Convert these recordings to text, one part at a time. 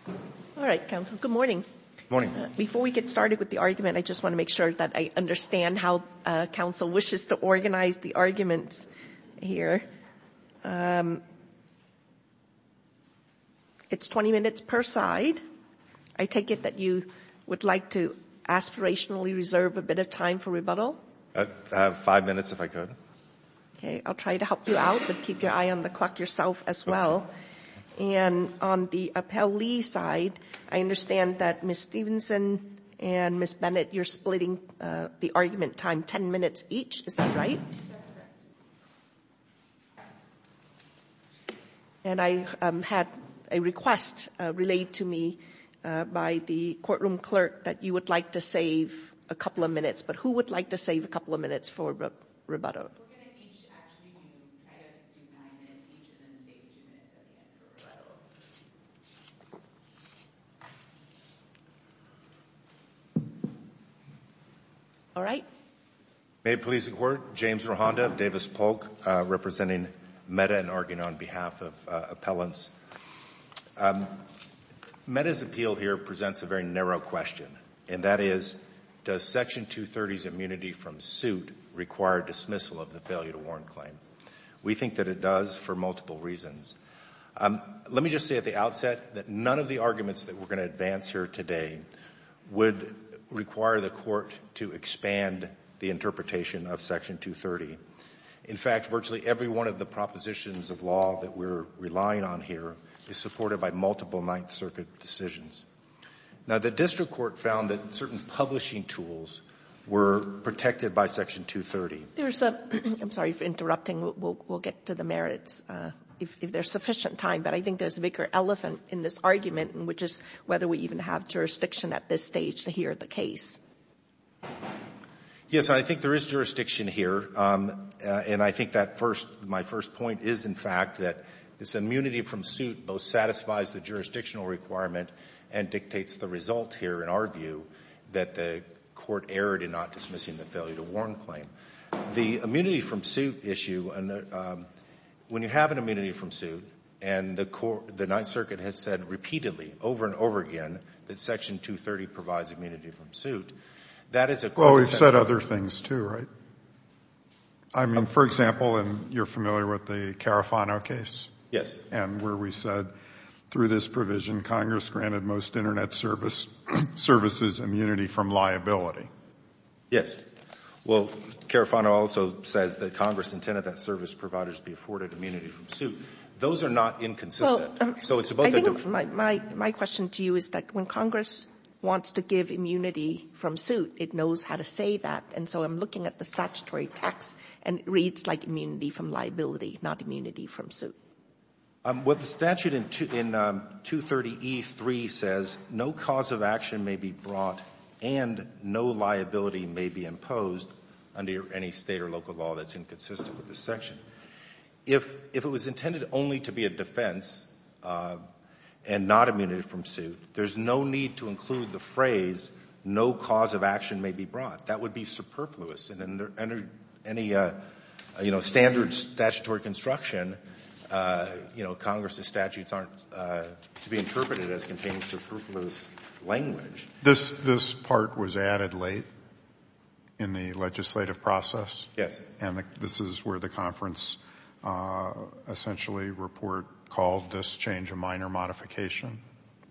Good morning. Good morning. Before we get started with the argument, I just want to make sure that I understand how counsel wishes to organize the arguments here. It's 20 minutes per side. I take it that you would like to aspirationally reserve a bit of time for rebuttal? Five minutes, if I could. Okay. I'll try to help you out, but keep your eye on the clock yourself as well. And on the Appellee side, I understand that Ms. Stevenson and Ms. Bennett, you're splitting the argument time 10 minutes each. Is that right? That's correct. And I had a request relayed to me by the courtroom clerk that you would like to save a couple of minutes. But who would like to save a couple of minutes for rebuttal? We're going to each actually kind of do nine minutes each and then save two minutes at the end for rebuttal. All right. May it please the Court. James Rohanda of Davis Polk, representing Meta and arguing on behalf of appellants. Meta's appeal here presents a very narrow question, and that is, does Section 230's immunity from suit require dismissal of the failure-to-warrant claim? We think that it does for multiple reasons. Let me just say at the outset that none of the arguments that we're going to advance here today would require the Court to expand the interpretation of Section 230. In fact, virtually every one of the propositions of law that we're relying on here is supported by multiple Ninth Circuit decisions. Now, the district court found that certain publishing tools were protected by Section 230. There's a — I'm sorry for interrupting. We'll get to the merits if there's sufficient time, but I think there's a bigger elephant in this argument, which is whether we even have jurisdiction at this stage to hear the case. Yes, I think there is jurisdiction here. And I think that first — my first point is, in fact, that this immunity from suit both satisfies the jurisdictional requirement and dictates the result here, in our view, that the Court erred in not dismissing the failure-to-warrant claim. The immunity from suit issue, when you have an immunity from suit and the Ninth Circuit has said repeatedly, over and over again, that Section 230 provides immunity from suit, that is a — Well, we've said other things, too, right? I mean, for example, and you're familiar with the Carrafano case? Yes. And where we said, through this provision, Congress granted most Internet service — services immunity from liability. Well, Carrafano also says that Congress intended that service providers be afforded immunity from suit. Those are not inconsistent. So it's about the — Well, I think my question to you is that when Congress wants to give immunity from suit, it knows how to say that. And so I'm looking at the statutory text, and it reads like immunity from liability, not immunity from suit. What the statute in 230E3 says, no cause of action may be brought and no liability may be imposed under any State or local law that's inconsistent with this section. If it was intended only to be a defense and not immunity from suit, there's no need to include the phrase, no cause of action may be brought. That would be superfluous. And under any, you know, standard statutory construction, you know, Congress's statutes aren't to be interpreted as containing superfluous language. This part was added late in the legislative process? Yes. And this is where the conference essentially report called this change a minor modification,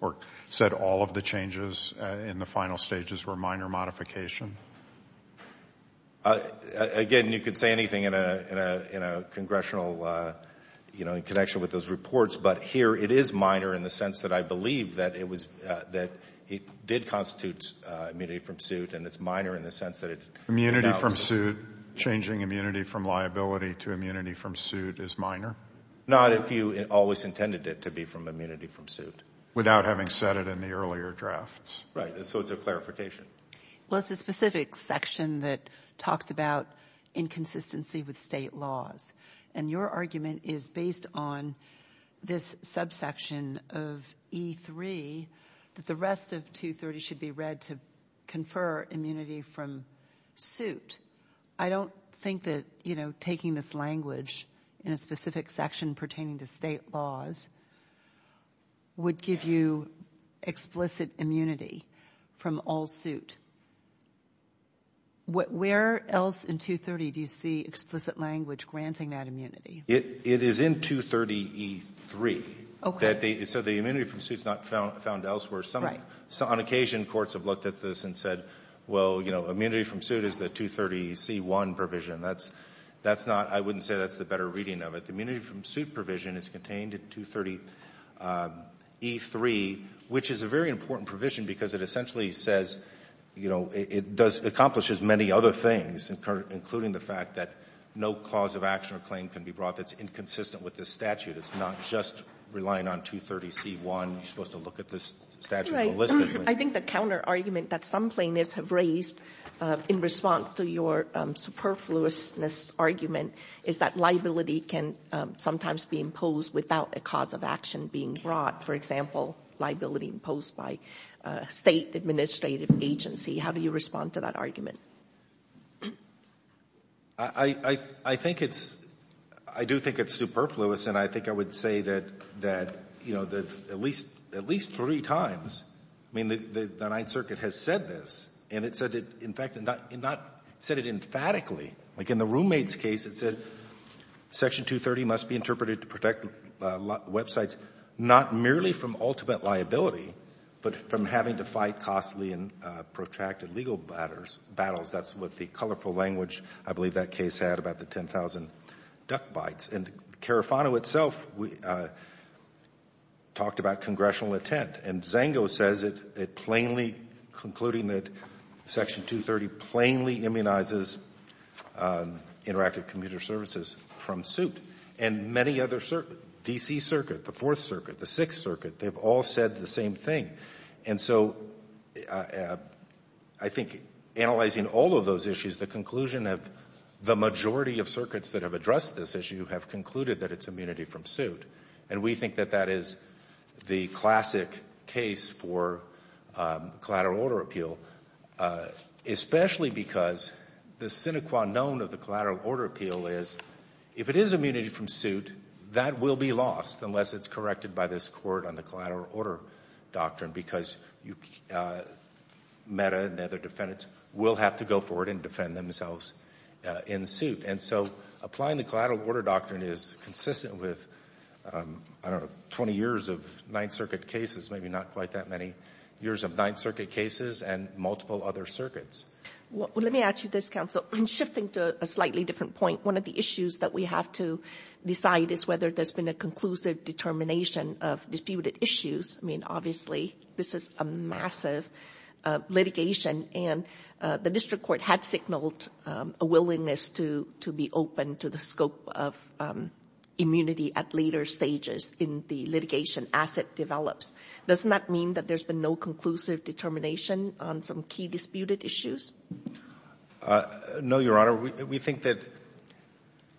or said all of the changes in the final stages were minor modification? Again, you could say anything in a congressional, you know, in connection with those reports, but here it is minor in the sense that I believe that it did constitute immunity from suit, and it's minor in the sense that it's Immunity from suit, changing immunity from liability to immunity from suit is minor? Not if you always intended it to be from immunity from suit. Without having said it in the earlier drafts. Right. So it's a clarification. Well, it's a specific section that talks about inconsistency with state laws, and your argument is based on this subsection of E3 that the rest of 230 should be read to confer immunity from suit. I don't think that, you know, taking this language in a specific section pertaining to state laws would give you explicit immunity from all suit. Where else in 230 do you see explicit language granting that immunity? It is in 230E3. Okay. So the immunity from suit is not found elsewhere. Right. On occasion, courts have looked at this and said, well, you know, immunity from suit is the 230C1 provision. That's not — I wouldn't say that's the better reading of it. Immunity from suit provision is contained in 230E3, which is a very important provision because it essentially says, you know, it accomplishes many other things, including the fact that no cause of action or claim can be brought that's inconsistent with this statute. It's not just relying on 230C1. You're supposed to look at this statute holistically. I think the counterargument that some plaintiffs have raised in response to your superfluousness argument is that liability can sometimes be imposed without a cause of action being brought. For example, liability imposed by a State administrative agency. How do you respond to that argument? I think it's — I do think it's superfluous, and I think I would say that, you know, that at least three times — I mean, the Ninth Circuit has said this, and it said it — in fact, it not — it not said it emphatically. Like, in the roommate's case, it said Section 230 must be interpreted to protect websites not merely from ultimate liability, but from having to fight costly and protracted legal battles. That's what the colorful language, I believe, that case had about the 10,000 duckbites. And Carafano itself talked about congressional intent, and Zango says it plainly concluding that Section 230 plainly immunizes Interactive Commuter Services from suit. And many other — D.C. Circuit, the Fourth Circuit, the Sixth Circuit, they've all said the same thing. And so I think analyzing all of those issues, the conclusion of the majority of circuits that have addressed this issue have concluded that it's immunity from suit. And we think that that is the classic case for collateral order appeal, especially because the sine qua non of the collateral order appeal is if it is immunity from suit, that will be lost unless it's corrected by this Court on the collateral order doctrine, because Meta and other defendants will have to go for it and defend themselves in suit. And so applying the collateral order doctrine is consistent with, I don't know, 20 years of Ninth Circuit cases, maybe not quite that many years of Ninth Circuit cases and multiple other circuits. Well, let me ask you this, Counsel. Shifting to a slightly different point, one of the issues that we have to decide is whether there's been a conclusive determination of disputed issues. I mean, obviously, this is a massive litigation, and the district court had signaled a willingness to be open to the scope of immunity at later stages in the litigation as it develops. Doesn't that mean that there's been no conclusive determination on some key disputed issues? No, Your Honor. We think that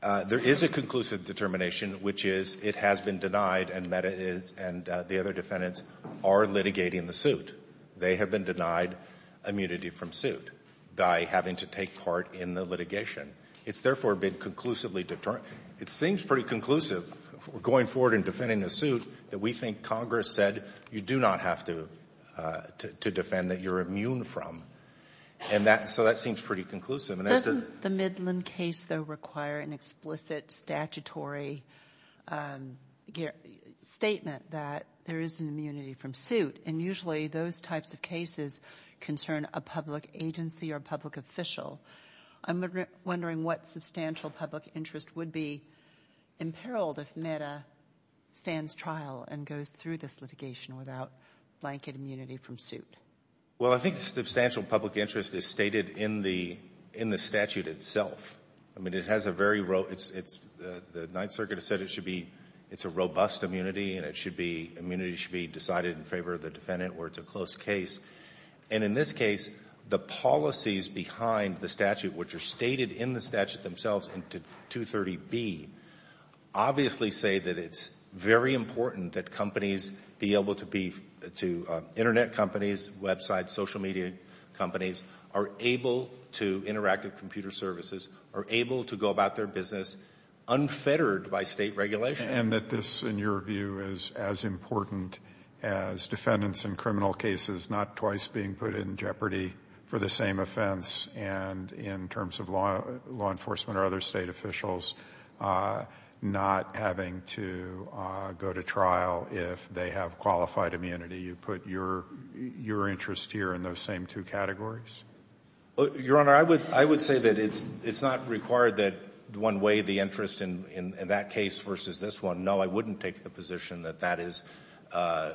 there is a conclusive determination, which is it has been denied and Meta and the other defendants are litigating the suit. They have been denied immunity from suit by having to take part in the litigation. It's therefore been conclusively determined. It seems pretty conclusive going forward in defending the suit that we think Congress said you do not have to defend that you're immune from. And so that seems pretty conclusive. Doesn't the Midland case, though, require an explicit statutory statement that there is an immunity from suit? And usually those types of cases concern a public agency or a public official. I'm wondering what substantial public interest would be imperiled if Meta stands trial and goes through this litigation without blanket immunity from suit. Well, I think substantial public interest is stated in the statute itself. I mean, it has a very row – the Ninth Circuit has said it should be – it's a robust immunity and it should be – immunity should be decided in favor of the defendant where it's a close case. And in this case, the policies behind the statute, which are stated in the statute themselves in 230B, obviously say that it's very important that companies be able to be – internet companies, websites, social media companies are able to – interactive computer services are able to go about their business unfettered by state regulation. And that this, in your view, is as important as defendants in criminal cases not twice being put in jeopardy for the same offense, and in terms of law enforcement or other State officials not having to go to trial if they have qualified immunity. You put your interest here in those same two categories? Your Honor, I would say that it's not required that one way the interest in that case versus this one. No, I wouldn't take the position that that is,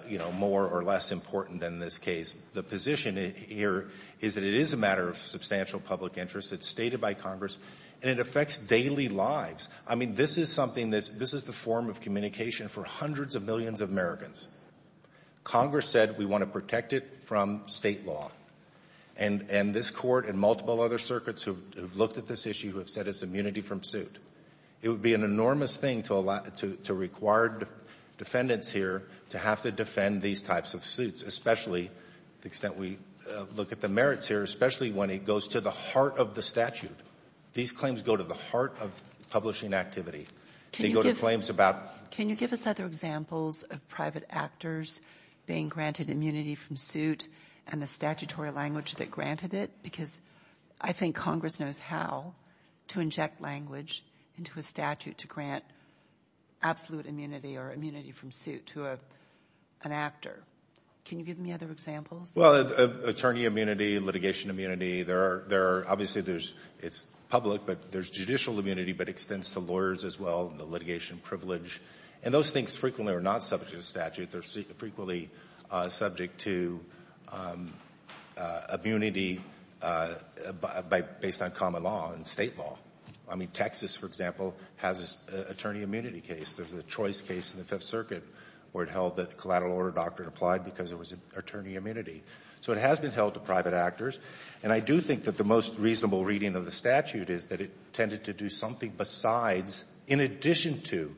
you know, more or less important than this case. The position here is that it is a matter of substantial public interest. It's stated by Congress. And it affects daily lives. I mean, this is something that's – this is the form of communication for hundreds of millions of Americans. Congress said we want to protect it from State law. And this Court and multiple other circuits who have looked at this issue who have said it's immunity from suit. It would be an enormous thing to require defendants here to have to defend these types of suits, especially the extent we look at the merits here, especially when it goes to the heart of the statute. These claims go to the heart of publishing activity. They go to claims about – Can you give us other examples of private actors being granted immunity from suit and the statutory language that granted it? Because I think Congress knows how to inject language into a statute to grant absolute immunity or immunity from suit to an actor. Can you give me other examples? Well, attorney immunity, litigation immunity. There are – obviously, there's – it's public, but there's judicial immunity that extends to lawyers as well, the litigation privilege. And those things frequently are not subject to statute. They're frequently subject to immunity based on common law and State law. I mean, Texas, for example, has an attorney immunity case. There's a choice case in the Fifth Circuit where it held that the collateral order doctrine applied because there was attorney immunity. So it has been held to private actors. And I do think that the most reasonable reading of the statute is that it tended to do something besides, in addition to,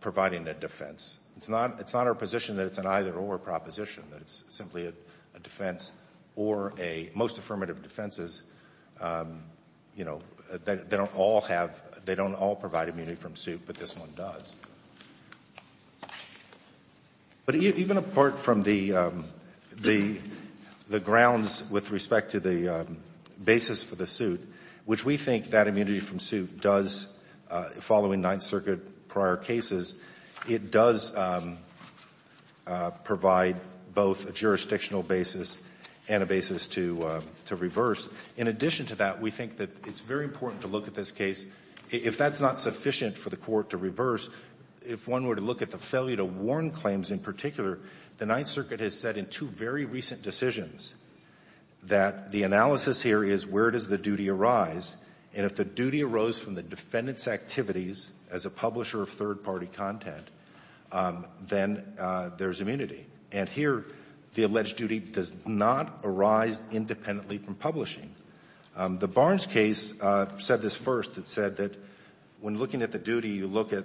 providing a defense. It's not a position that it's an either-or proposition, that it's simply a defense or a – most affirmative defenses, you know, they don't all have – they don't all provide immunity from suit, but this one does. But even apart from the grounds with respect to the basis for the suit, which we think that immunity from suit does following Ninth Circuit prior cases, it does provide both a jurisdictional basis and a basis to reverse. In addition to that, we think that it's very important to look at this case. If that's not sufficient for the Court to reverse, if one were to look at the failure to warn claims in particular, the Ninth Circuit has said in two very recent decisions that the analysis here is where does the duty arise, and if the duty arose from the defendant's activities as a publisher of third-party content, then there's immunity. And here, the alleged duty does not arise independently from publishing. The Barnes case said this first. It said that when looking at the duty, you look at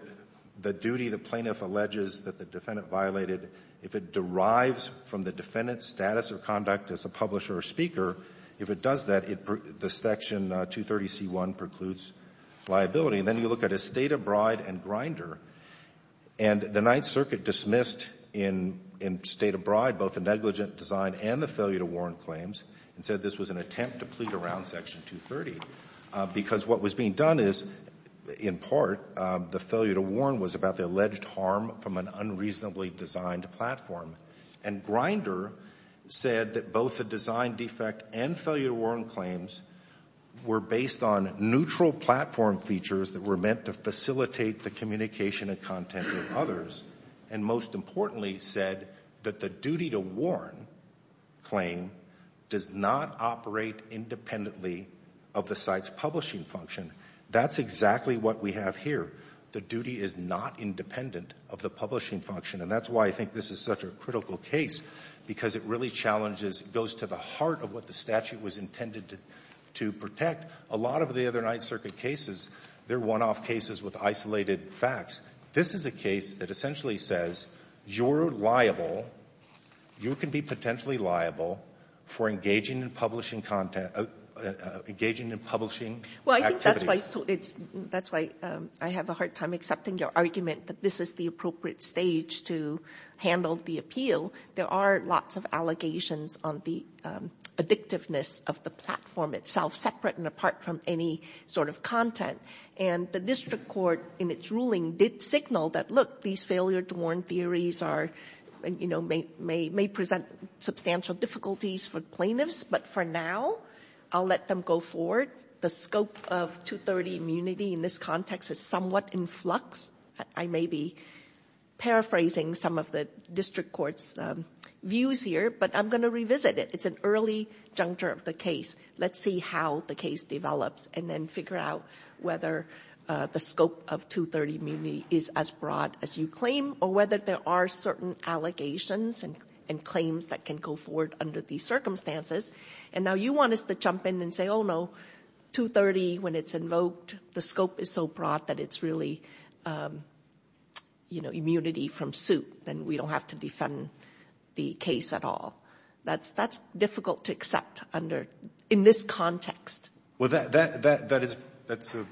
the duty the plaintiff alleges that the defendant violated. If it derives from the defendant's status or conduct as a publisher or speaker, if it does that, the Section 230c1 precludes liability. And then you look at a State of Bride and Grinder, and the Ninth Circuit dismissed in State of Bride both the negligent design and the failure to warn claims and said this was an attempt to plead around Section 230, because what was being done is, in part, the failure to warn was about the alleged harm from an unreasonably designed platform. And Grinder said that both the design defect and failure to warn claims were based on neutral platform features that were meant to facilitate the communication and content of others, and most importantly said that the duty to warn claim does not operate independently of the site's publishing function. That's exactly what we have here. The duty is not independent of the publishing function, and that's why I think this is such a critical case, because it really challenges, goes to the heart of what the statute was intended to protect. A lot of the other Ninth Circuit cases, they're one-off cases with isolated facts. This is a case that essentially says you're liable, you can be potentially liable for engaging in publishing content, engaging in publishing activities. Well, I think that's why it's, that's why I have a hard time accepting your argument that this is the appropriate stage to handle the appeal. There are lots of allegations on the addictiveness of the platform itself, separate and apart from any sort of content. And the district court, in its ruling, did signal that, look, these failure for plaintiffs, but for now, I'll let them go forward. The scope of 230 immunity in this context is somewhat in flux. I may be paraphrasing some of the district court's views here, but I'm going to revisit it. It's an early juncture of the case. Let's see how the case develops, and then figure out whether the scope of 230 immunity is as broad as you claim, or whether there are certain allegations and claims that can go forward under these circumstances. And now you want us to jump in and say, oh, no, 230, when it's invoked, the scope is so broad that it's really, you know, immunity from suit. Then we don't have to defend the case at all. That's difficult to accept under, in this context. Well, that's a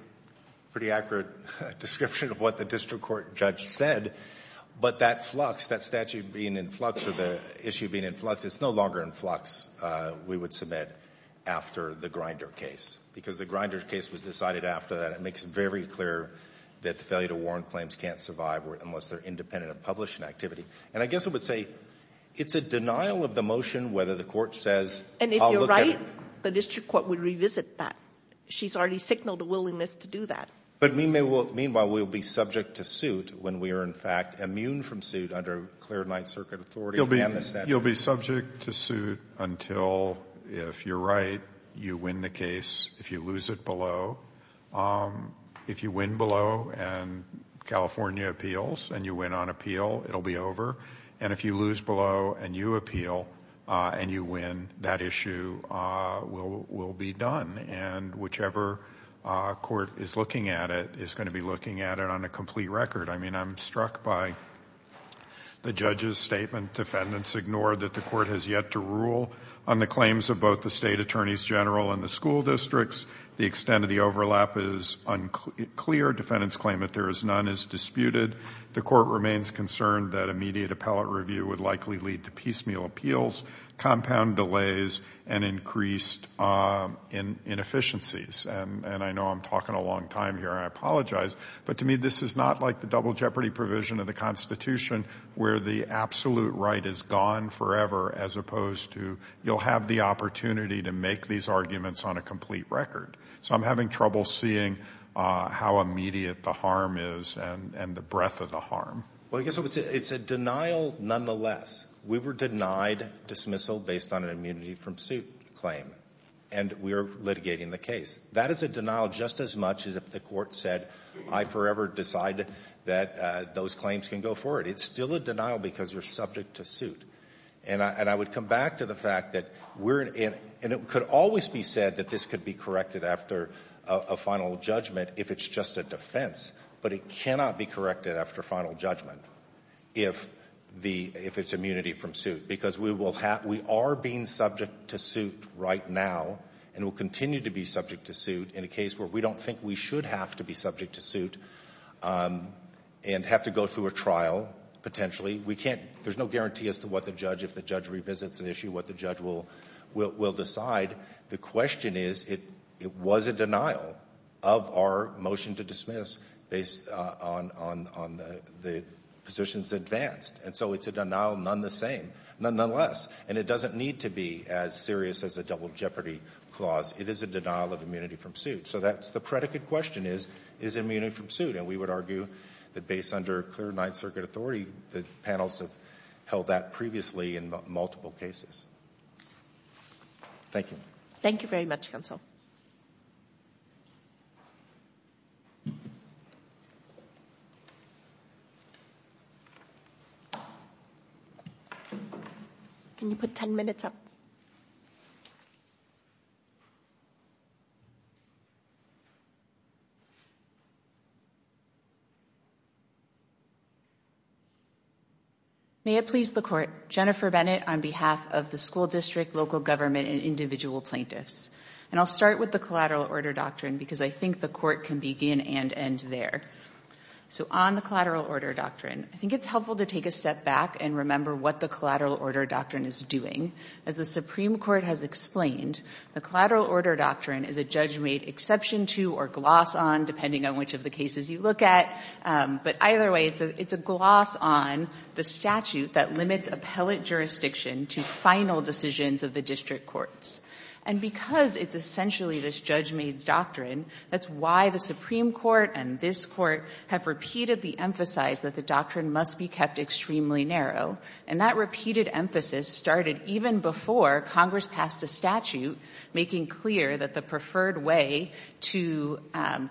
pretty accurate description of what the district court judge said. But that flux, that statute being in flux or the issue being in flux, it's no longer in flux, we would submit, after the Grinder case, because the Grinder case was decided after that. It makes it very clear that the failure to warrant claims can't survive unless they're independent of publishing activity. And I guess I would say it's a And if you're right, the district court would revisit that. She's already signaled a willingness to do that. But meanwhile, we'll be subject to suit when we are, in fact, immune from suit under clear Ninth Circuit authority and the statute. You'll be subject to suit until, if you're right, you win the case. If you lose it below, if you win below and California appeals and you win on appeal, it'll be over. And if you lose below and you appeal and you win, that issue will be done. And whichever court is looking at it is going to be looking at it on a complete record. I mean, I'm struck by the judge's statement. Defendants ignore that the court has yet to rule on the claims of both the state attorneys general and the school districts. The extent of the overlap is unclear. Defendants claim that there is none. It's disputed. The court remains concerned that immediate appellate review would likely lead to piecemeal appeals, compound delays, and increased inefficiencies. And I know I'm talking a long time here. I apologize. But to me, this is not like the double jeopardy provision of the Constitution where the absolute right is gone forever as opposed to you'll have the opportunity to make these arguments on a complete record. So I'm having trouble seeing how immediate the harm is and the breadth of the harm. Well, I guess it's a denial nonetheless. We were denied dismissal based on an immunity from suit claim. And we are litigating the case. That is a denial just as much as if the court said I forever decide that those claims can go forward. It's still a denial because you're subject to suit. And I would come back to the fact that we're in — and it could always be said that this could be corrected after a final judgment if it's just a defense, but it cannot be corrected after final judgment if the — if it's immunity from suit, because we will have — we are being subject to suit right now and will continue to be subject to suit in a case where we don't think we should have to be subject to suit and have to go through a trial potentially. We can't — there's no guarantee as to what the judge — if the judge revisits an issue, what the judge will decide. The question is, it was a denial of our motion to dismiss based on the positions advanced. And so it's a denial nonetheless. And it doesn't need to be as serious as a double jeopardy clause. It is a denial of immunity from suit. So that's — the predicate question is, is it immunity from suit? And we would argue that based under clear Ninth Circuit authority, the panels have held that previously in multiple cases. Thank you. Thank you very much, counsel. Can you put 10 minutes up? May it please the Court. Jennifer Bennett on behalf of the school district, local government, and individual plaintiffs. And I'll start with the collateral order doctrine because I think the Court can begin and end there. So on the collateral order doctrine, I think it's helpful to take a step back and remember what the collateral order doctrine is doing. As the Supreme Court has explained, the collateral order doctrine is a judge made exception to or gloss on, depending on which of the cases you look at. But either way, it's a gloss on the statute that limits appellate jurisdiction to final decisions of the district courts. And because it's essentially this judge made doctrine, that's why the Supreme Court and this Court have repeatedly emphasized that the doctrine must be kept extremely narrow. And that repeated emphasis started even before Congress passed a statute making clear that the preferred way to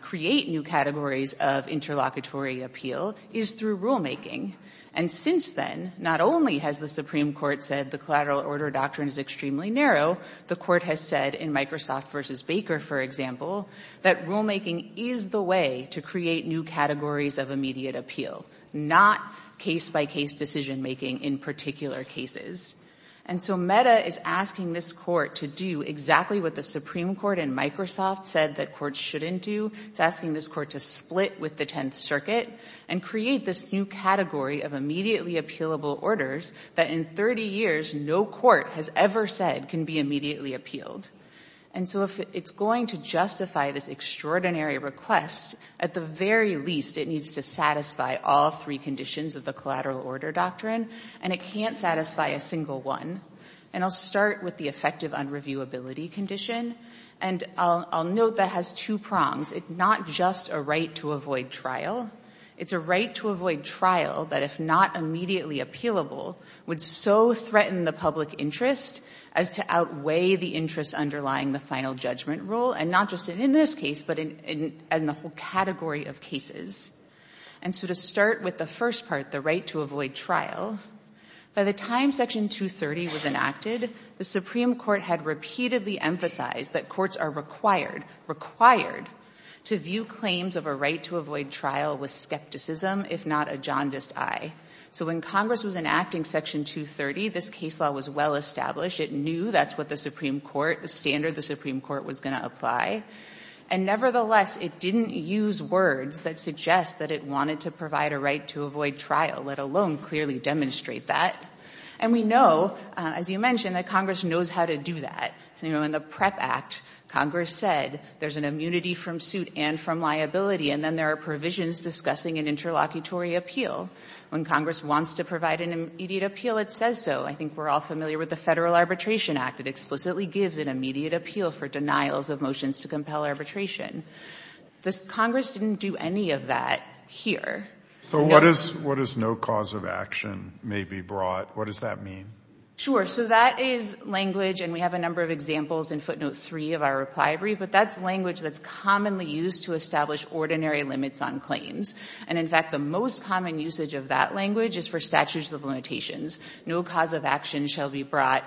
create new categories of interlocutory appeal is through rulemaking. And since then, not only has the Supreme Court said the collateral order doctrine is extremely narrow, the Court has said in Microsoft v. Baker, for example, that rulemaking is the way to create new categories of immediate appeal, not case-by-case decision-making in particular cases. And so Meta is asking this Court to do exactly what the Supreme Court in Microsoft said that courts shouldn't do. It's asking this Court to split with the Tenth Circuit and create this new category of immediately appealable orders that in 30 years no court has ever said can be immediately appealed. And so if it's going to justify this extraordinary request, at the very least, it needs to satisfy all three conditions of the collateral order doctrine, and it can't satisfy a single one. And I'll start with the effective unreviewability condition, and I'll note that has two prongs. It's not just a right to avoid trial. It's a right to avoid trial that if not immediately appealable would so threaten the public interest as to outweigh the interest underlying the final judgment rule, and not just in this case, but in the whole category of cases. And so to start with the first part, the right to avoid trial, by the time Section 230 was enacted, the Supreme Court had repeatedly emphasized that courts are required to view claims of a right to avoid trial with skepticism, if not a jaundiced eye. So when Congress was enacting Section 230, this case law was well established. It knew that's what the Supreme Court, the standard the Supreme Court was going to apply. And nevertheless, it didn't use words that suggest that it wanted to provide a right to avoid trial, let alone clearly demonstrate that. And we know, as you mentioned, that Congress knows how to do that. In the PREP Act, Congress said there's an immunity from suit and from liability, and then there are provisions discussing an interlocutory appeal. When Congress wants to provide an immediate appeal, it says so. I think we're all familiar with the Federal Arbitration Act. It explicitly gives an immediate appeal for denials of motions to compel arbitration. Congress didn't do any of that here. So what does no cause of action may be brought? What does that mean? Sure. So that is language, and we have a number of examples in footnote 3 of our reply brief, but that's language that's commonly used to establish ordinary limits on And in fact, the most common usage of that language is for statutes of limitations. No cause of action shall be brought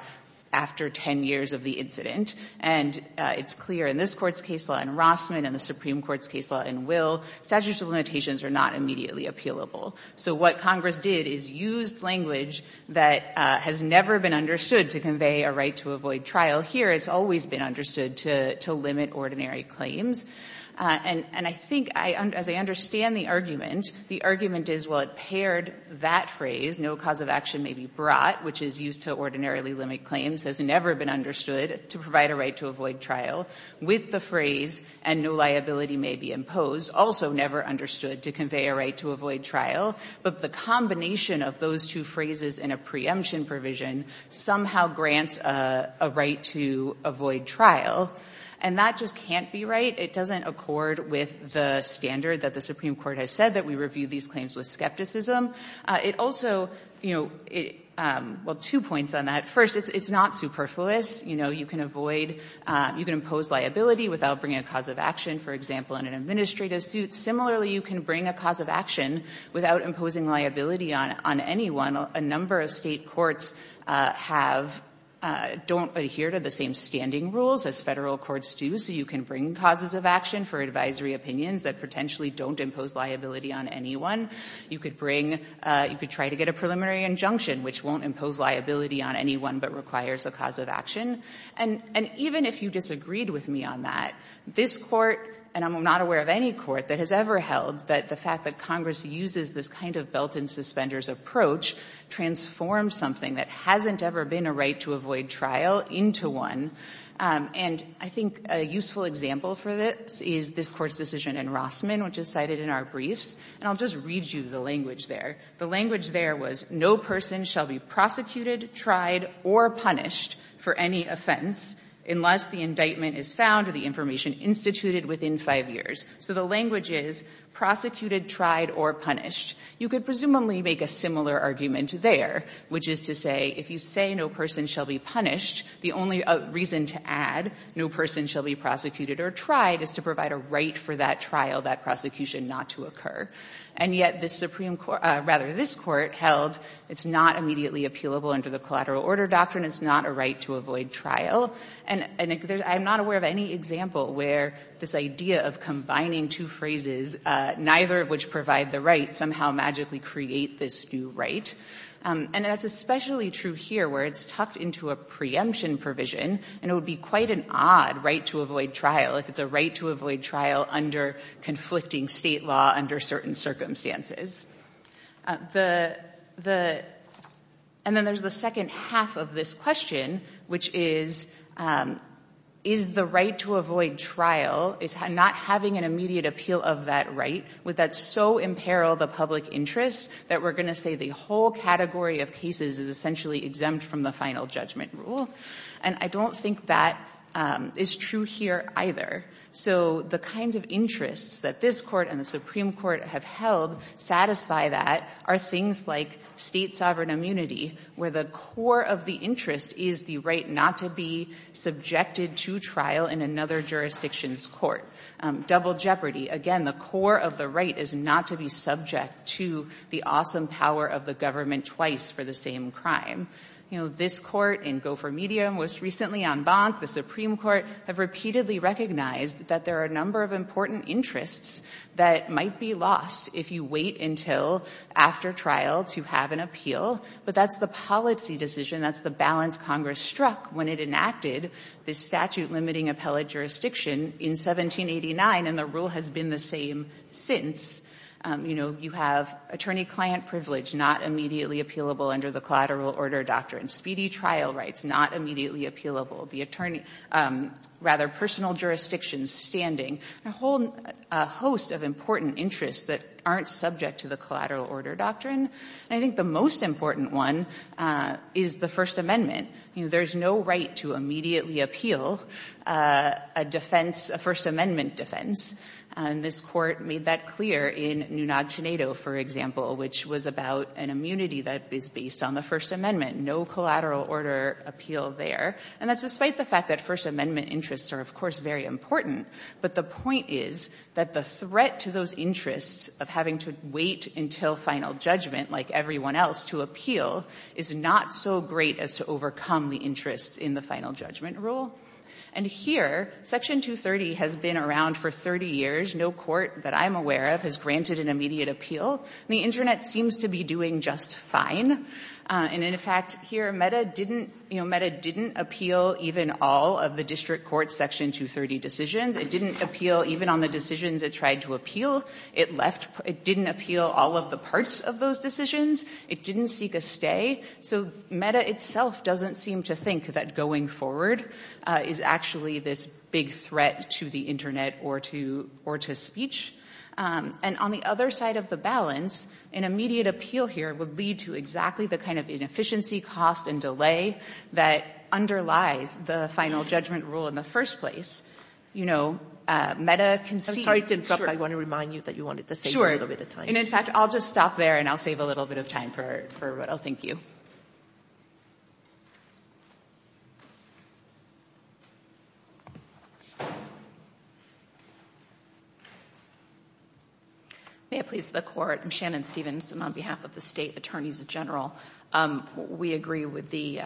after 10 years of the incident. And it's clear in this Court's case law in Rossman and the Supreme Court's case law in Will, statutes of limitations are not immediately appealable. So what Congress did is used language that has never been understood to convey a right to avoid trial. Here, it's always been understood to limit ordinary claims. And I think, as I understand the argument, the argument is, well, it paired that phrase, no cause of action may be brought, which is used to ordinarily limit claims, has never been understood to provide a right to avoid trial, with the phrase, and no liability may be imposed, also never understood to convey a right to avoid trial. But the combination of those two phrases in a preemption provision somehow grants a right to avoid trial. And that just can't be right. It doesn't accord with the standard that the Supreme Court has said that we review these claims with skepticism. It also, you know, well, two points on that. First, it's not superfluous. You know, you can avoid, you can impose liability without bringing a cause of action, for example, in an administrative suit. Similarly, you can bring a cause of action without imposing liability on anyone. A number of State courts have, don't adhere to the same standing rules as Federal courts do, so you can bring causes of action for advisory opinions that potentially don't impose liability on anyone. You could bring, you could try to get a preliminary injunction, which won't impose liability on anyone but requires a cause of action. And even if you disagreed with me on that, this Court, and I'm not aware of any Court that has ever held that the fact that Congress uses this kind of belt-and- suspenders approach transforms something that hasn't ever been a right to avoid trial into one. And I think a useful example for this is this Court's decision in Rossman, which is cited in our briefs. And I'll just read you the language there. The language there was, no person shall be prosecuted, tried, or punished for any offense unless the indictment is found or the information instituted within five years. So the language is, prosecuted, tried, or punished. You could presumably make a similar argument there, which is to say, if you say no person shall be punished, the only reason to add no person shall be prosecuted or tried is to provide a right for that trial, that prosecution, not to occur. And yet this Supreme Court, rather this Court, held it's not immediately appealable under the collateral order doctrine. It's not a right to avoid trial. And I'm not aware of any example where this idea of combining two phrases, neither of which provide the right, somehow magically create this new right. And that's especially true here where it's tucked into a preemption provision and it would be quite an odd right to avoid trial if it's a right to avoid trial under conflicting State law under certain circumstances. The — and then there's the second half of this question, which is, is the right to avoid trial, is not having an immediate appeal of that right, would that so imperil the public interest that we're going to say the whole category of cases is essentially exempt from the final judgment rule? And I don't think that is true here either. So the kinds of interests that this Court and the Supreme Court have held satisfy that are things like State sovereign immunity, where the core of the interest is the right not to be subjected to trial in another jurisdiction's court. Double jeopardy. Again, the core of the right is not to be subject to the awesome power of the government twice for the same crime. You know, this Court in Gopher Medium was recently en banc. The Supreme Court have repeatedly recognized that there are a number of important interests that might be lost if you wait until after trial to have an appeal. But that's the policy decision, that's the balance Congress struck when it enacted this statute limiting appellate jurisdiction in 1789. And the rule has been the same since. You know, you have attorney-client privilege not immediately appealable under the collateral order doctrine. Speedy trial rights not immediately appealable. The attorney — rather, personal jurisdiction standing. A whole host of important interests that aren't subject to the collateral order doctrine. And I think the most important one is the First Amendment. You know, there's no right to immediately appeal a defense, a First Amendment defense. And this Court made that clear in Nunag Tenedo, for example, which was about an immunity that is based on the First Amendment. No collateral order appeal there. And that's despite the fact that First Amendment interests are, of course, very important. But the point is that the threat to those interests of having to wait until final judgment, like everyone else, to appeal is not so great as to overcome the interest in the final judgment rule. And here, Section 230 has been around for 30 years. No court that I'm aware of has granted an immediate appeal. The Internet seems to be doing just fine. And in fact, here MEDA didn't — you know, MEDA didn't appeal even all of the district court's Section 230 decisions. It didn't appeal even on the decisions it tried to appeal. It left — it didn't appeal all of the parts of those decisions. It didn't seek a stay. So MEDA itself doesn't seem to think that going forward is actually this big threat to the Internet or to — or to speech. And on the other side of the balance, an immediate appeal here would lead to exactly the kind of inefficiency, cost and delay that underlies the final judgment rule in the first place. You know, MEDA can see — I want to remind you that you wanted to save a little bit of time. And in fact, I'll just stop there and I'll save a little bit of time for what I'll thank you. May it please the Court. I'm Shannon Stephenson on behalf of the State Attorneys General. We agree with the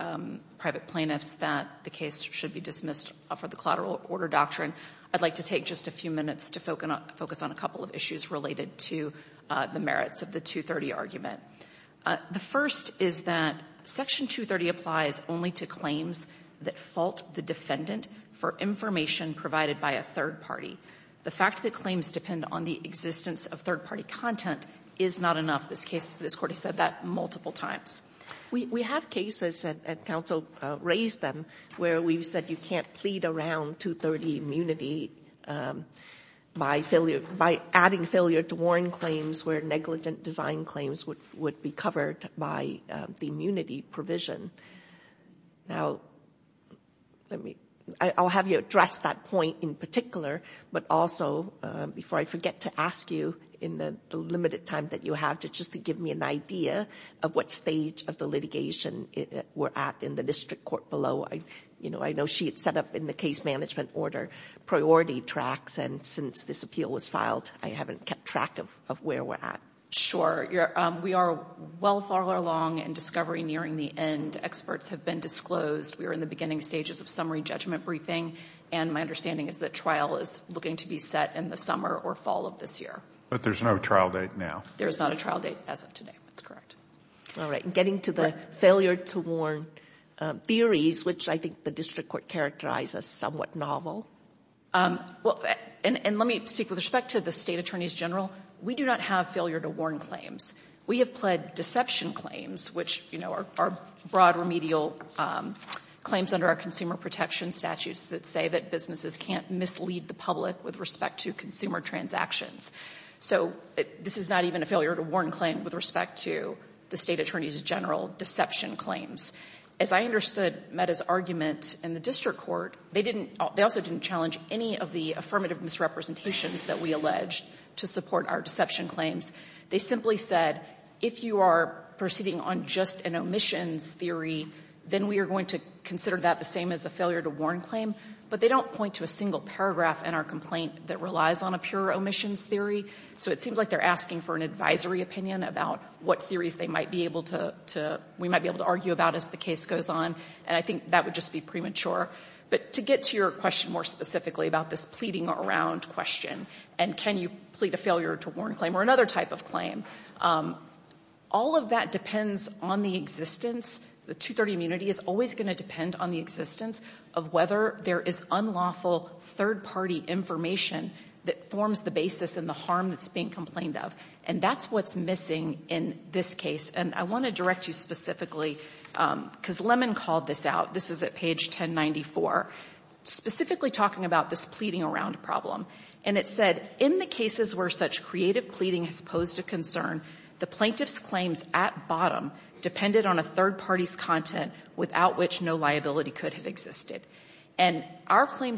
private plaintiffs that the case should be dismissed for the collateral order doctrine. I'd like to take just a few minutes to focus on a couple of issues related to the merits of the 230 argument. The first is that Section 230 applies only to claims that fault the defendant for information provided by a third party. The fact that claims depend on the existence of third-party content is not enough. This case — this Court has said that multiple times. We have cases, and counsel raised them, where we've said you can't plead around 230 immunity by failure — by adding failure to warrant claims where negligent design claims would be covered by the immunity provision. Now, let me — I'll have you address that point in particular, but also, before I forget to ask you in the limited time that you have, just to give me an idea of what stage of the litigation we're at in the district court below. I know she had set up in the case management order priority tracks, and since this appeal was filed, I haven't kept track of where we're at. Sure. We are well far along in discovery nearing the end. Experts have been disclosed. We are in the beginning stages of summary judgment briefing, and my understanding is that trial is looking to be set in the summer or fall of this year. But there's no trial date now. There's not a trial date as of today. That's correct. All right. And getting to the failure to warrant theories, which I think the district court characterized as somewhat novel. Well, and let me speak with respect to the state attorneys general. We do not have failure to warrant claims. We have pled deception claims, which, you know, are broad remedial claims under our consumer protection statutes that say that businesses can't mislead the public with respect to consumer transactions. So this is not even a failure to warrant claim with respect to the state attorneys general deception claims. As I understood Meta's argument in the district court, they didn't – they also didn't challenge any of the affirmative misrepresentations that we alleged to support our deception claims. They simply said, if you are proceeding on just an omissions theory, then we are going to consider that the same as a failure to warrant claim. But they don't point to a single paragraph in our complaint that relies on a pure omissions theory. So it seems like they're asking for an advisory opinion about what theories they might be able to – we might be able to argue about as the case goes on. And I think that would just be premature. But to get to your question more specifically about this pleading around question, and can you plead a failure to warrant claim or another type of claim, all of that depends on the existence – the 230 immunity is always going to depend on the existence of whether there is unlawful third-party information that forms the basis in the harm that's being complained of. And that's what's missing in this case. And I want to direct you specifically, because Lemon called this out. This is at page 1094, specifically talking about this pleading around problem. And it said, in the cases where such creative pleading has posed a concern, the plaintiff's claims at bottom depended on a third party's content without which no claims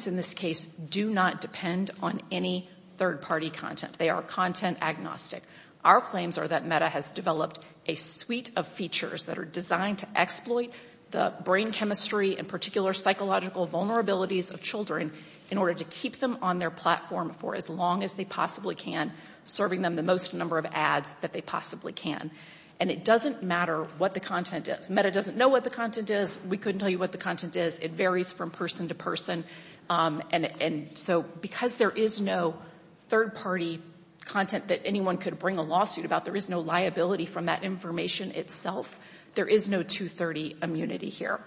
in this case do not depend on any third-party content. They are content agnostic. Our claims are that META has developed a suite of features that are designed to exploit the brain chemistry and particular psychological vulnerabilities of children in order to keep them on their platform for as long as they possibly can, serving them the most number of ads that they possibly can. And it doesn't matter what the content is. META doesn't know what the content is. We couldn't tell you what the content is. It varies from person to person. And so because there is no third-party content that anyone could bring a lawsuit about, there is no liability from that information itself, there is no 230 immunity here.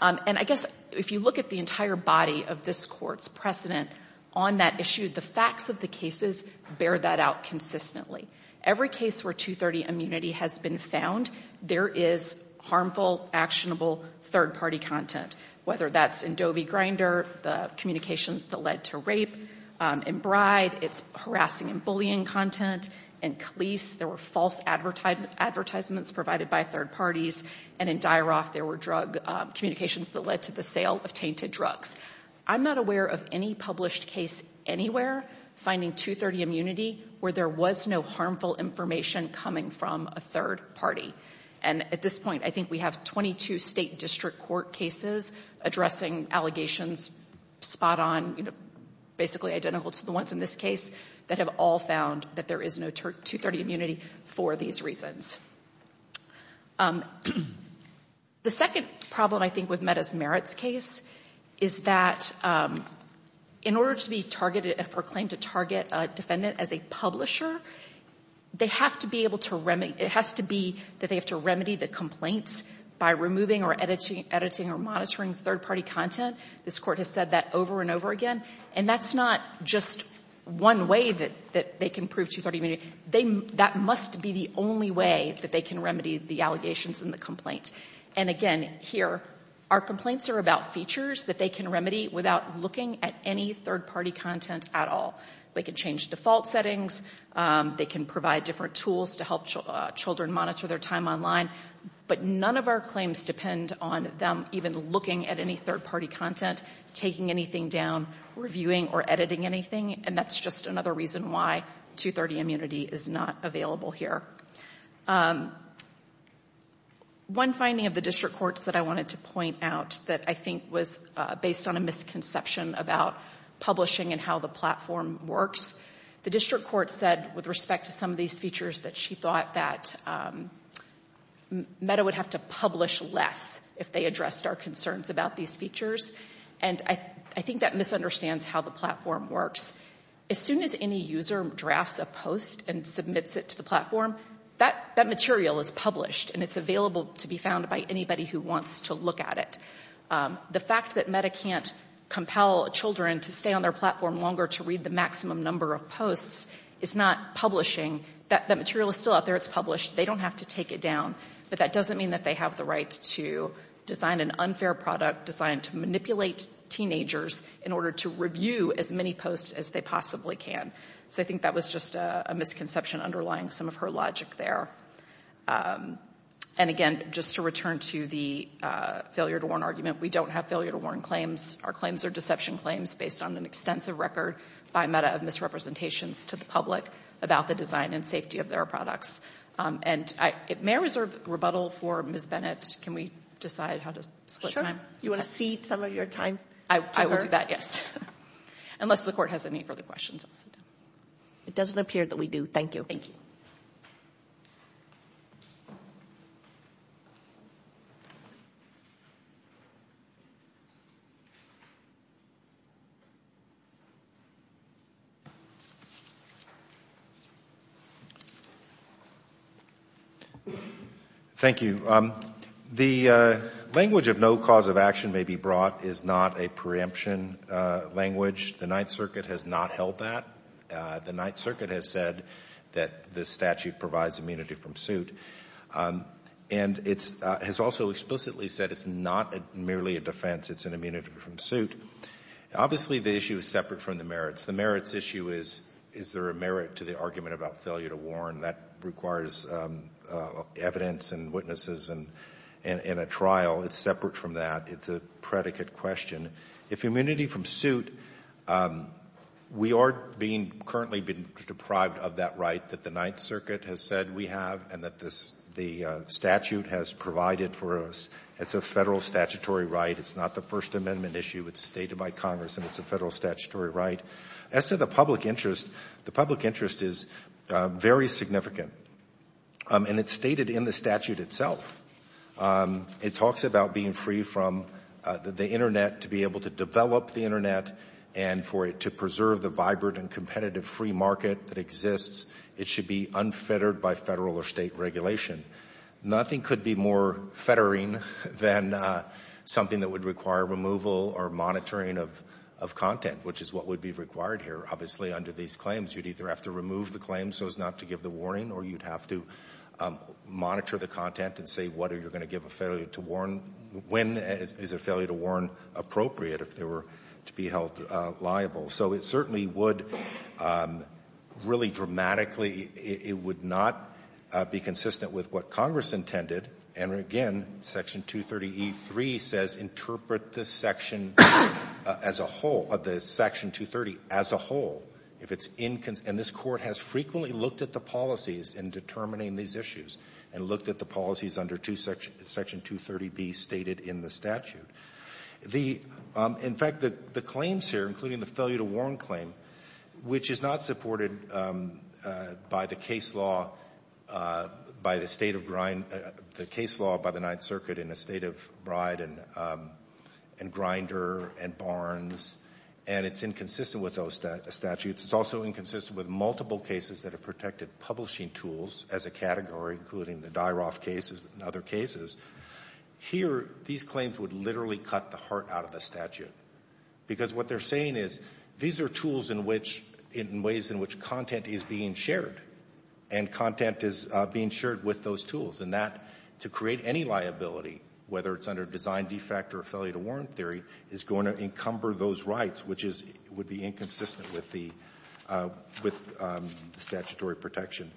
And I guess if you look at the entire body of this Court's precedent on that issue, the facts of the cases bear that out consistently. Every case where 230 immunity has been found, there is harmful, actionable third-party content, whether that's in Dobie Grinder, the communications that led to rape. In Bride, it's harassing and bullying content. In Cleese, there were false advertisements provided by third parties. And in Dyaroff, there were drug communications that led to the sale of tainted drugs. I'm not aware of any published case anywhere finding 230 immunity where there was no harmful information coming from a third party. And at this point, I think we have 22 State District Court cases addressing allegations spot on, basically identical to the ones in this case, that have all found that there is no 230 immunity for these reasons. The second problem, I think, with Mehta's Merits case is that in order to be targeted or claimed to target a defendant as a publisher, they have to be able to remedy the complaints by removing or editing or monitoring third-party content. This Court has said that over and over again. And that's not just one way that they can prove 230 immunity. That must be the only way that they can remedy the allegations in the complaint. And again, here, our complaints are about features that they can remedy without looking at any third-party content at all. They can change default settings. They can provide different tools to help children monitor their time online. But none of our claims depend on them even looking at any third-party content, taking anything down, reviewing or editing anything. And that's just another reason why 230 immunity is not available here. One finding of the District Courts that I wanted to point out that I think was based on a misconception about publishing and how the platform works, the judge said with respect to some of these features that she thought that MEDA would have to publish less if they addressed our concerns about these features. And I think that misunderstands how the platform works. As soon as any user drafts a post and submits it to the platform, that material is published and it's available to be found by anybody who wants to look at it. The fact that MEDA can't compel children to stay on their platform longer to read the maximum number of posts is not publishing. That material is still out there. It's published. They don't have to take it down. But that doesn't mean that they have the right to design an unfair product designed to manipulate teenagers in order to review as many posts as they possibly can. So I think that was just a misconception underlying some of her logic there. And again, just to return to the failure to warn argument, we don't have failure to warn claims. Our claims are deception claims based on an extensive record by MEDA of misrepresentations to the public about the design and safety of their products. And it may reserve rebuttal for Ms. Bennett. Can we decide how to split time? Sure. You want to cede some of your time to her? I will do that, yes. Unless the court has any further questions. It doesn't appear that we do. Thank you. Thank you. Thank you. The language of no cause of action may be brought is not a preemption language. The Ninth Circuit has not held that. The Ninth Circuit has said that the statute provides immunity from suit. And it has also explicitly said it's not merely a defense. It's an immunity from suit. Obviously, the issue is separate from the merits. The merits issue is, is there a merit to the argument about failure to warn? That requires evidence and witnesses and a trial. It's separate from that. It's a predicate question. If immunity from suit, we are being currently being deprived of that right that the Ninth Circuit has said we have and that this the statute has provided for us. It's a Federal statutory right. It's not the First Amendment issue. It's stated by Congress and it's a Federal statutory right. As to the public interest, the public interest is very significant. And it's stated in the statute itself. It talks about being free from the Internet to be able to develop the Internet and for it to preserve the vibrant and competitive free market that exists. It should be unfettered by Federal or State regulation. Nothing could be more fettering than something that would require removal or monitoring of content, which is what would be required here. Obviously, under these claims, you'd either have to remove the claim so as not to give the warning or you'd have to monitor the content and say what are you going to give a failure to warn, when is a failure to warn appropriate if they were to be held liable. So it certainly would really dramatically, it would not be consistent with what Congress intended. And again, Section 230e3 says interpret this section as a whole, Section 230 as a whole. If it's inconsistent, this Court has frequently looked at the policies in determining these issues and looked at the policies under Section 230b stated in the statute. In fact, the claims here, including the failure to warn claim, which is not supported by the case law, by the State of Grind, the case law by the Ninth Circuit in the State of Bride and Grinder and Barnes, and it's inconsistent with those statutes. It's also inconsistent with multiple cases that have protected publishing tools as a category, including the Dyroff cases and other cases. Here, these claims would literally cut the heart out of the statute, because what they're saying is these are tools in which, in ways in which content is being shared and content is being shared with those tools. And that, to create any liability, whether it's under design defect or failure to warn theory, is going to encumber those rights, which is, would be inconsistent with the, with the statutory protection.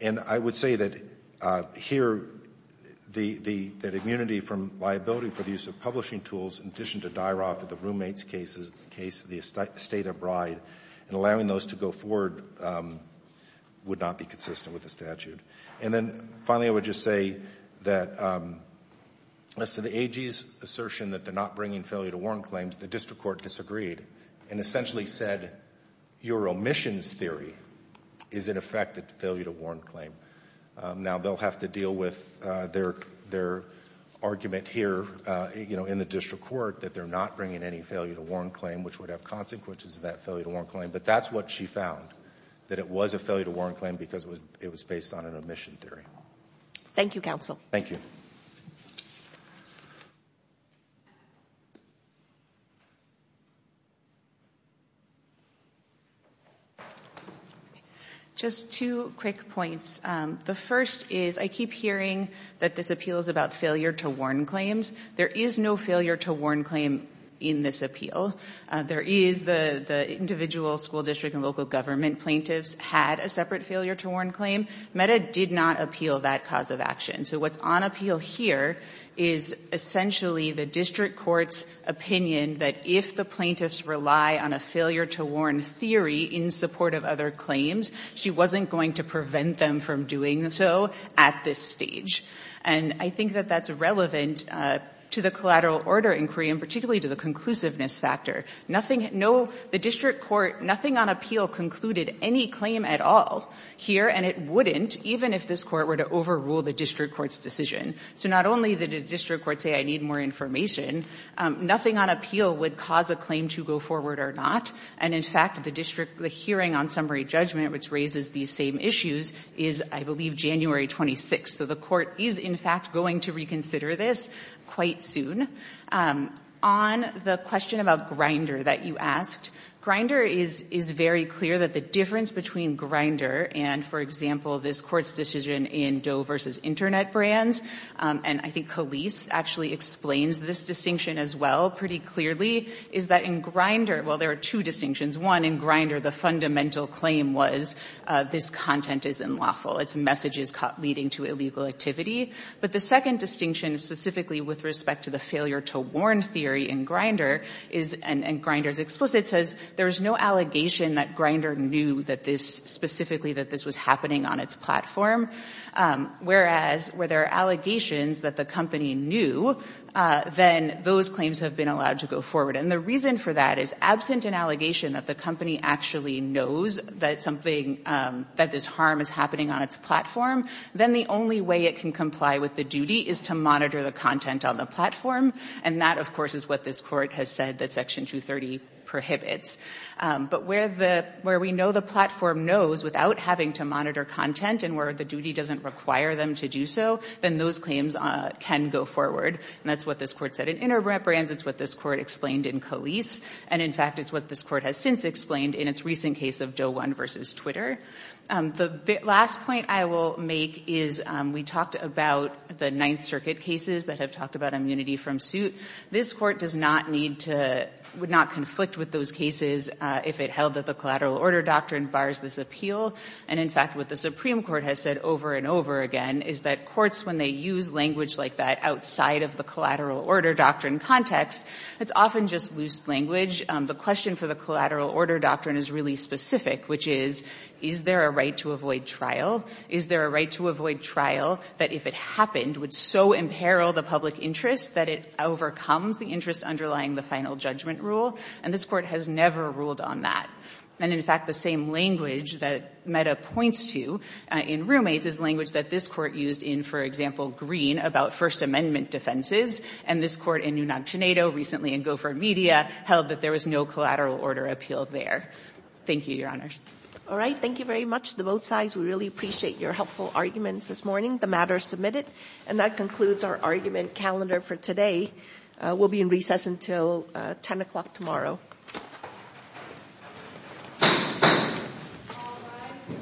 And I would say that, here, the, the, that immunity from liability for the use of publishing tools, in addition to Dyroff and the roommates cases, in the case of the State of Bride, and allowing those to go forward would not be consistent with the statute. And then, finally, I would just say that, as to the AG's assertion that they're not bringing failure to warn claims, the district court disagreed and essentially said your omissions theory is, in effect, a failure to warn claim. Now, they'll have to deal with their, their argument here, you know, in the district court that they're not bringing any failure to warn claim, which would have consequences of that failure to warn claim. But that's what she found, that it was a failure to warn claim because it was based on an omission theory. Thank you, counsel. Thank you. Just two quick points. The first is, I keep hearing that this appeal is about failure to warn claims. There is no failure to warn claim in this appeal. There is the, the individual school district and local government plaintiffs had a separate failure to warn claim. Meta did not appeal that cause of action. So, what's on appeal here is, essentially, the district court's opinion that, if the plaintiffs rely on a failure to warn theory in support of other claims, she wasn't going to prevent them from doing so at this stage. And I think that that's relevant to the collateral order inquiry and particularly to the conclusiveness factor. Nothing, no, the district court, nothing on appeal concluded any claim at all here and it wouldn't, even if this court were to overrule the district court's decision. So, not only did the district court say, I need more information, nothing on appeal would cause a claim to go forward or not. And, in fact, the district, the hearing on summary judgment, which raises these same issues, is, I believe, January 26th. So, the court is, in fact, going to reconsider this quite soon. On the question about Grindr that you asked, Grindr is, is very clear that the difference between Grindr and, for example, this court's decision in Doe versus Internet brands, and I think Khalees actually explains this distinction as well pretty clearly, is that in Grindr, well, there are two distinctions. One, in Grindr, the fundamental claim was this content is unlawful. It's messages caught leading to illegal activity. But the second distinction, specifically with respect to the failure to warn theory in Grindr is, and Grindr's explicit, says there's no allegation that Grindr knew that this, specifically, that this was happening on its platform. Whereas, where there are allegations that the company knew, then those claims have been allowed to go forward. And the reason for that is, absent an allegation that the company actually knows that something, that this harm is happening on its platform, then the only way it can comply with the duty is to monitor the content on the platform. And that, of course, is what this court has said that Section 230 prohibits. But where the, where we know the platform knows without having to monitor content and where the duty doesn't require them to do so, then those claims can go forward. And that's what this court said in Interbrands. It's what this court explained in Collise. And, in fact, it's what this court has since explained in its recent case of Doe 1 v. Twitter. The last point I will make is we talked about the Ninth Circuit cases that have talked about immunity from suit. This court does not need to, would not conflict with those cases if it held that the collateral order doctrine bars this appeal. And, in fact, what the Supreme Court has said over and over again is that courts, when they use language like that outside of the collateral order doctrine context, it's often just loose language. The question for the collateral order doctrine is really specific, which is, is there a right to avoid trial? Is there a right to avoid trial that, if it happened, would so imperil the public interest that it overcomes the interest underlying the final judgment rule? And this court has never ruled on that. And, in fact, the same language that Meta points to in Roommates is language that this court used in, for example, Green about First Amendment defenses. And this court in Unacionado, recently in Gopher Media, held that there was no collateral order appeal there. Thank you, Your Honors. All right. Thank you very much to both sides. We really appreciate your helpful arguments this morning, the matters submitted. And that concludes our argument calendar for today. We'll be in recess until 10 o'clock tomorrow. Thank you. Thank you.